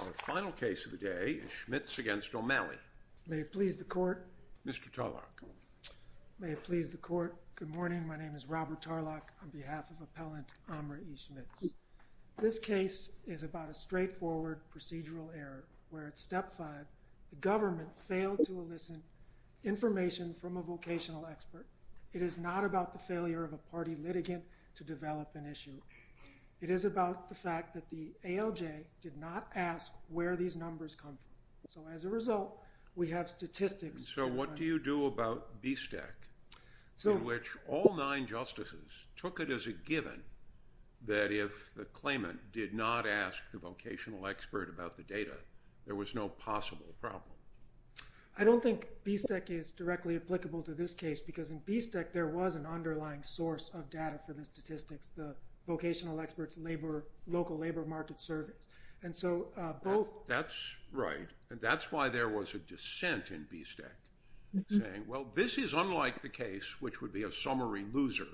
Our final case of the day is Schmitz v. O'Malley. May it please the Court. Mr. Tarlock. May it please the Court. Good morning. My name is Robert Tarlock on behalf of Appellant Amra E. Schmitz. This case is about a straightforward procedural error where at Step 5 the government failed to elicit information from a vocational expert. It is not about the failure of a party litigant to develop an issue. It is about the fact that the ALJ did not ask where these numbers come from. So as a result, we have statistics. So what do you do about BSTEC, in which all nine justices took it as a given that if the claimant did not ask the vocational expert about the data, there was no possible problem? I don't think BSTEC is directly applicable to this case because in BSTEC there was an underlying source of data for the statistics, the vocational expert's local labor market surveys. That's right. That's why there was a dissent in BSTEC saying, well, this is unlike the case, which would be a summary loser,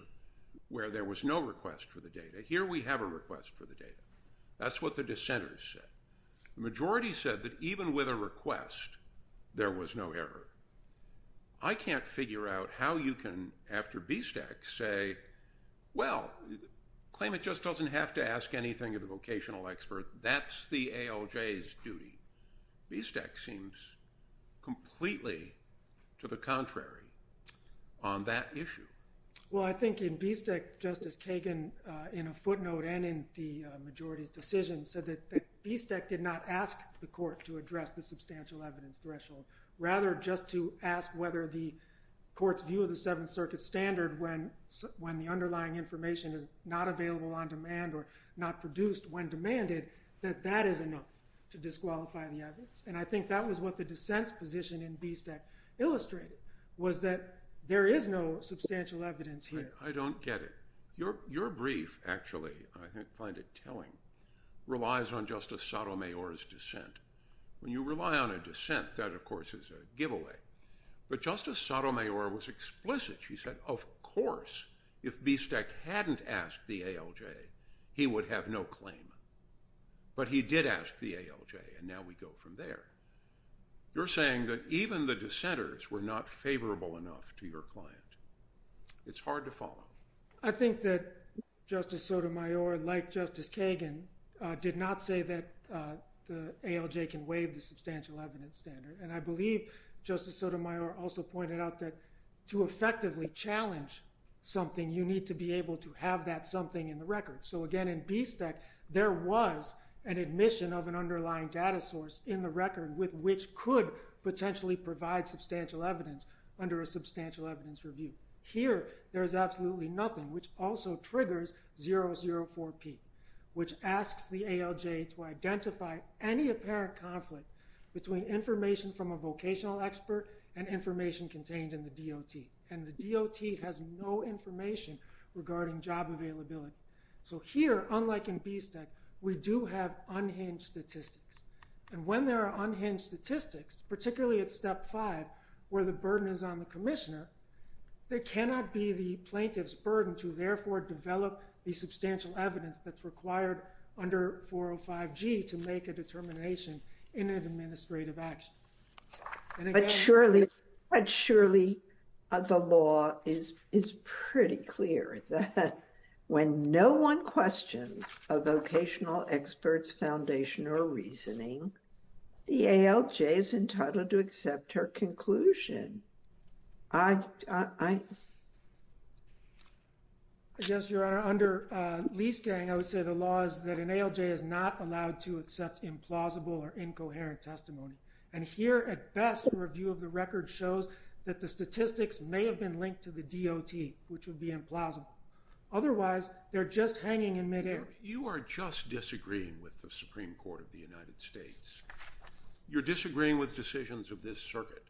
where there was no request for the data. Here we have a request for the data. That's what the dissenters said. The majority said that even with a request, there was no error. I can't figure out how you can, after BSTEC, say, well, the claimant just doesn't have to ask anything of the vocational expert. That's the ALJ's duty. BSTEC seems completely to the contrary on that issue. Well, I think in BSTEC, Justice Kagan, in a footnote and in the majority's decision, said that BSTEC did not ask the court to address the substantial evidence threshold. Rather, just to ask whether the court's view of the Seventh Circuit standard, when the underlying information is not available on demand or not produced when demanded, that that is enough to disqualify the evidence. I think that was what the dissent's position in BSTEC illustrated, was that there is no substantial evidence here. I don't get it. Your brief, actually, I find it telling, relies on Justice Sotomayor's dissent. When you rely on a dissent, that, of course, is a giveaway. But Justice Sotomayor was explicit. She said, of course, if BSTEC hadn't asked the ALJ, he would have no claim. But he did ask the ALJ, and now we go from there. You're saying that even the dissenters were not favorable enough to your client. It's hard to follow. I think that Justice Sotomayor, like Justice Kagan, did not say that the ALJ can waive the substantial evidence standard. And I believe Justice Sotomayor also pointed out that to effectively challenge something, you need to be able to have that something in the record. So, again, in BSTEC, there was an admission of an underlying data source in the record with which could potentially provide substantial evidence under a substantial evidence review. Here, there is absolutely nothing, which also triggers 004P, which asks the ALJ to identify any apparent conflict between information from a vocational expert and information contained in the DOT. And the DOT has no information regarding job availability. So here, unlike in BSTEC, we do have unhinged statistics. And when there are unhinged statistics, particularly at step five, where the burden is on the commissioner, there cannot be the plaintiff's burden to therefore develop the substantial evidence that's required under 405G to make a determination in an administrative action. But surely, the law is pretty clear that when no one questions a vocational expert's foundation or reasoning, the ALJ is entitled to accept her conclusion. I guess, Your Honor, under Leaskang, I would say the law is that an ALJ is not allowed to accept implausible or incoherent testimony. And here, at best, the review of the record shows that the statistics may have been linked to the DOT, which would be implausible. Otherwise, they're just hanging in midair. You are just disagreeing with the Supreme Court of the United States. You're disagreeing with decisions of this circuit.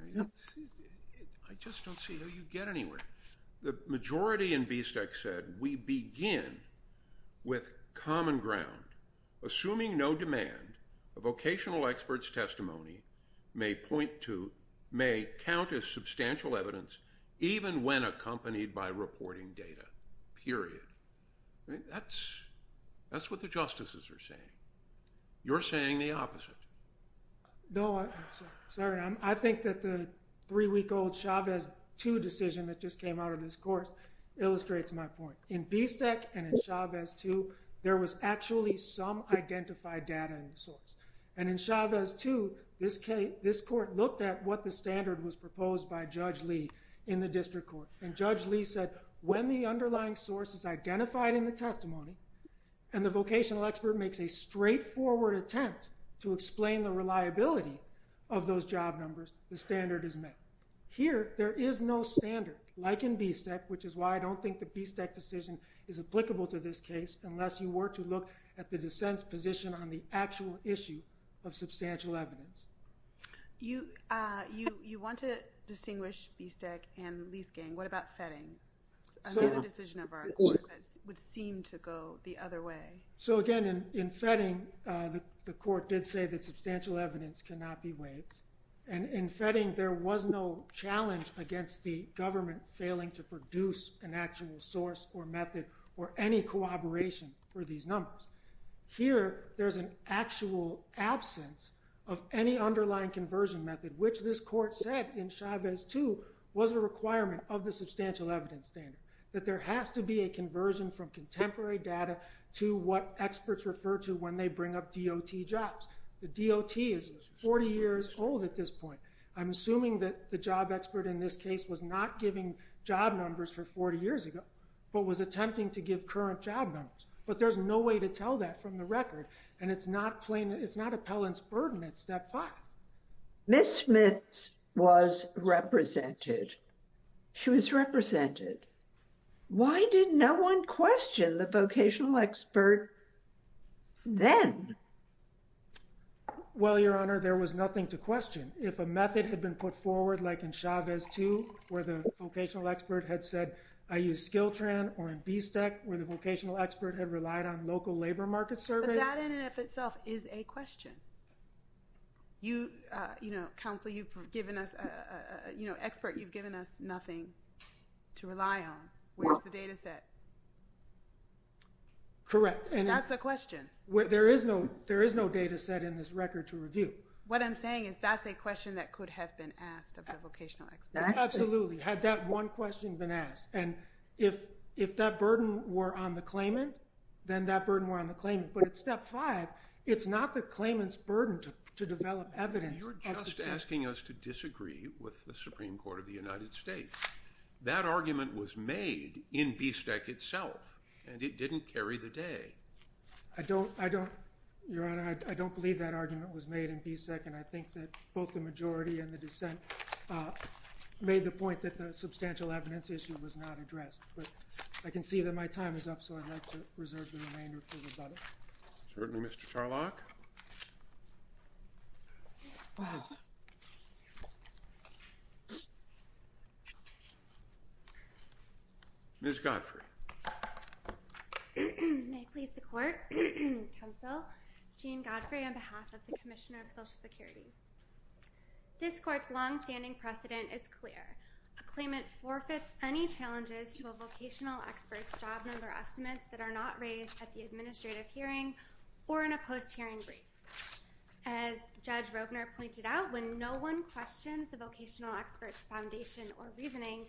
I just don't see how you get anywhere. The majority in BSTEC said, we begin with common ground, assuming no demand, a vocational expert's testimony may count as substantial evidence, even when accompanied by reporting data, period. That's what the justices are saying. You're saying the opposite. No, Your Honor. I think that the three-week-old Chavez 2 decision that just came out of this course illustrates my point. In BSTEC and in Chavez 2, there was actually some identified data in the source. And in Chavez 2, this court looked at what the standard was proposed by Judge Lee in the district court. And Judge Lee said, when the underlying source is identified in the testimony, and the vocational expert makes a straightforward attempt to explain the reliability of those job numbers, the standard is met. Here, there is no standard, like in BSTEC, which is why I don't think the BSTEC decision is applicable to this case, unless you were to look at the dissent's position on the actual issue of substantial evidence. You want to distinguish BSTEC and lease gain. What about fetting? I think the decision of our court would seem to go the other way. So again, in fetting, the court did say that substantial evidence cannot be waived. And in fetting, there was no challenge against the government failing to produce an actual source or method or any corroboration for these numbers. Here, there's an actual absence of any underlying conversion method, which this court said in Chavez 2 was a requirement of the substantial evidence standard. That there has to be a conversion from contemporary data to what experts refer to when they bring up DOT jobs. The DOT is 40 years old at this point. I'm assuming that the job expert in this case was not giving job numbers for 40 years ago, but was attempting to give current job numbers. But there's no way to tell that from the record. And it's not plain, it's not appellant's burden at step 5. Ms. Smith was represented. She was represented. Why did no one question the vocational expert then? Well, Your Honor, there was nothing to question. If a method had been put forward, like in Chavez 2, where the vocational expert had said, I use SkillTran, or in BSTEC, where the vocational expert had relied on local labor market surveys. But that in and of itself is a question. You, you know, counsel, you've given us, you know, expert, you've given us nothing to rely on. Where's the data set? Correct. And that's a question. There is no data set in this record to review. What I'm saying is that's a question that could have been asked of the vocational expert. Absolutely. Had that one question been asked. And if that burden were on the claimant, then that burden were on the claimant. But at step 5, it's not the claimant's burden to develop evidence. You're just asking us to disagree with the Supreme Court of the United States. That argument was made in BSTEC itself. And it didn't carry the day. I don't, I don't, Your Honor, I don't believe that argument was made in BSTEC. And I think that both the majority and the dissent made the point that the substantial evidence issue was not addressed. But I can see that my time is up, so I'd like to reserve the remainder for rebuttal. Certainly, Mr. Charlock. Wow. Ms. Godfrey. May it please the court, counsel. Jean Godfrey on behalf of the Commissioner of Social Security. This court's longstanding precedent is clear. A claimant forfeits any challenges to a vocational expert's job number estimates that are not raised at the administrative hearing or in a post-hearing brief. As Judge Rogner pointed out, when no one questions the vocational expert's foundation or reasoning,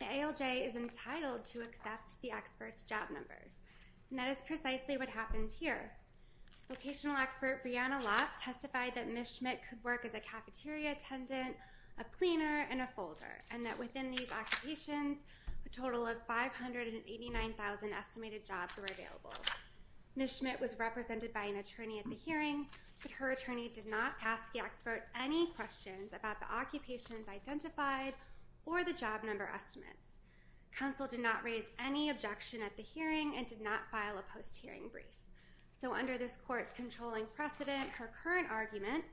the ALJ is entitled to accept the expert's job numbers. And that is precisely what happened here. Vocational expert Breanna Lott testified that Ms. Schmidt could work as a cafeteria attendant, a cleaner, and a folder. And that within these occupations, a total of 589,000 estimated jobs were available. Ms. Schmidt was represented by an attorney at the hearing, but her attorney did not ask the expert any questions about the occupations identified or the job number estimates. Counsel did not raise any objection at the hearing and did not file a post-hearing brief. So under this court's controlling precedent, her current argument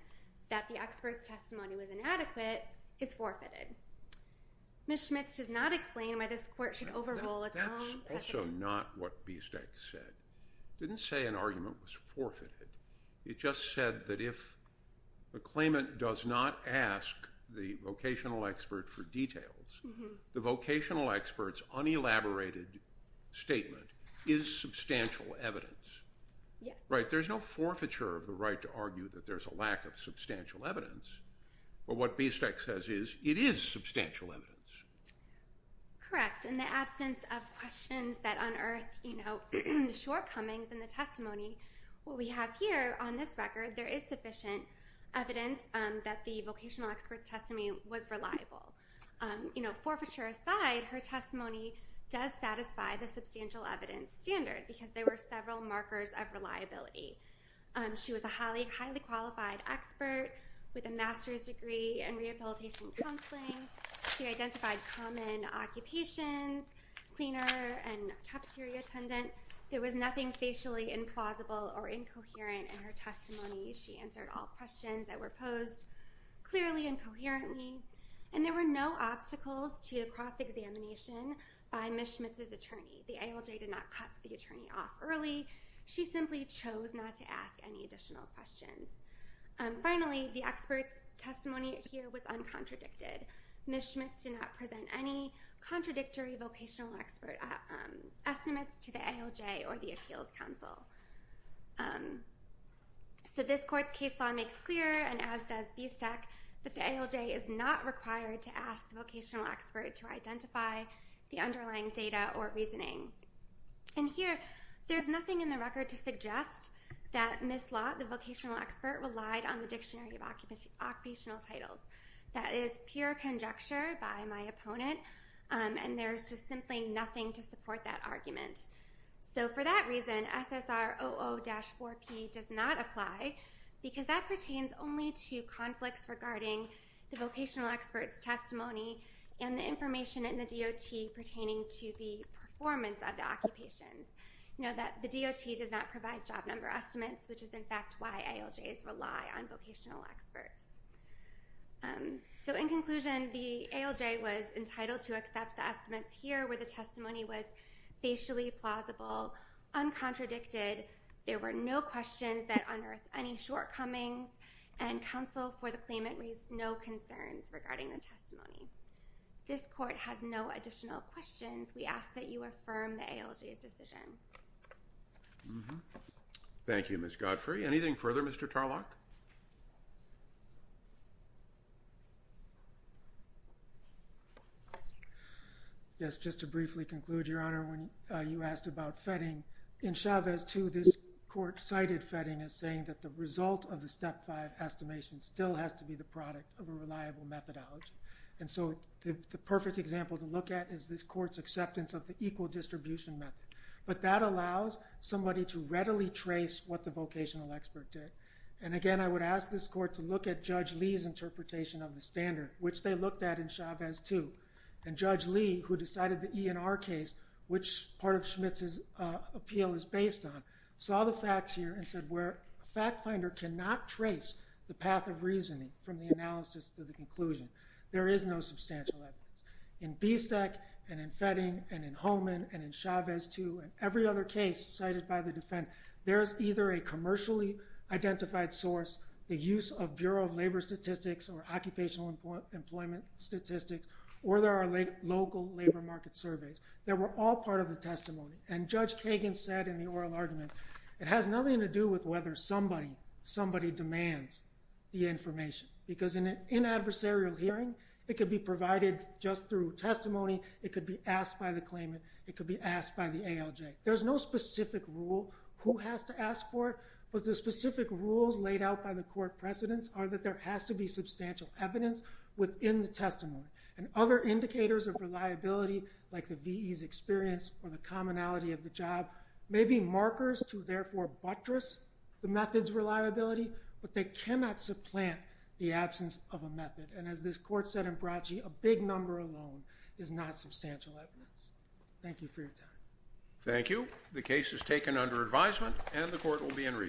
that the expert's testimony was inadequate is forfeited. Ms. Schmidt does not explain why this court should overrule its own precedent. That's also not what BSTEC said. It didn't say an argument was forfeited. It just said that if a claimant does not ask the vocational expert for details, the vocational expert's unelaborated statement is substantial evidence. There's no forfeiture of the right to argue that there's a lack of substantial evidence. But what BSTEC says is it is substantial evidence. Correct. In the absence of questions that unearth the shortcomings in the testimony, what we have here on this record, there is sufficient evidence that the vocational expert's testimony was reliable. Forfeiture aside, her testimony does satisfy the substantial evidence standard because there were several markers of reliability. She was a highly qualified expert with a master's degree in rehabilitation counseling. She identified common occupations, cleaner and cafeteria attendant. There was nothing facially implausible or incoherent in her testimony. She answered all questions that were posed clearly and coherently, and there were no obstacles to a cross-examination by Ms. Schmidt's attorney. The ALJ did not cut the attorney off early. She simply chose not to ask any additional questions. Finally, the expert's testimony here was uncontradicted. Ms. Schmidt's did not present any contradictory vocational expert estimates to the ALJ or the appeals counsel. So this court's case law makes clear, and as does BSTEC, that the ALJ is not required to ask the vocational expert to identify the underlying data or reasoning. And here, there's nothing in the record to suggest that Ms. Lott, the vocational expert, relied on the Dictionary of Occupational Titles. That is pure conjecture by my opponent, and there's just simply nothing to support that argument. So for that reason, SSR 00-4P does not apply, because that pertains only to conflicts regarding the vocational expert's testimony and the information in the DOT pertaining to the performance of the occupations. Note that the DOT does not provide job number estimates, which is in fact why ALJs rely on vocational experts. So in conclusion, the ALJ was entitled to accept the estimates here, where the testimony was facially plausible, uncontradicted, there were no questions that unearthed any shortcomings, and counsel for the claimant raised no concerns regarding the testimony. This court has no additional questions. We ask that you affirm the ALJ's decision. Thank you, Ms. Godfrey. Anything further, Mr. Tarlock? Yes, just to briefly conclude, Your Honor, when you asked about vetting, in Chavez 2, this court cited vetting as saying that the result of the Step 5 estimation still has to be the product of a reliable methodology. And so the perfect example to look at is this court's acceptance of the equal distribution method. But that allows somebody to readily trace what the vocational expert did. And again, I would ask this court to look at Judge Lee's interpretation of the standard, which they looked at in Chavez 2. And Judge Lee, who decided the E&R case, which part of Schmitz's appeal is based on, saw the facts here and said where a fact finder cannot trace the path of reasoning from the analysis to the conclusion. There is no substantial evidence. In BSTEC, and in vetting, and in Hohman, and in Chavez 2, and every other case cited by the defendant, there is either a commercially identified source, the use of Bureau of Labor Statistics or Occupational Employment Statistics, or there are local labor market surveys. They were all part of the testimony. And Judge Kagan said in the oral argument, it has nothing to do with whether somebody demands the information. Because in an adversarial hearing, it could be provided just through testimony. It could be asked by the claimant. It could be asked by the ALJ. There's no specific rule who has to ask for it. But the specific rules laid out by the court precedents are that there has to be substantial evidence within the testimony. And other indicators of reliability, like the VE's experience or the commonality of the job, may be markers to therefore buttress the method's reliability, but they cannot supplant the absence of a method. And as this court said in Bracci, a big number alone is not substantial evidence. Thank you for your time. Thank you. The case is taken under advisement and the court will be in recess.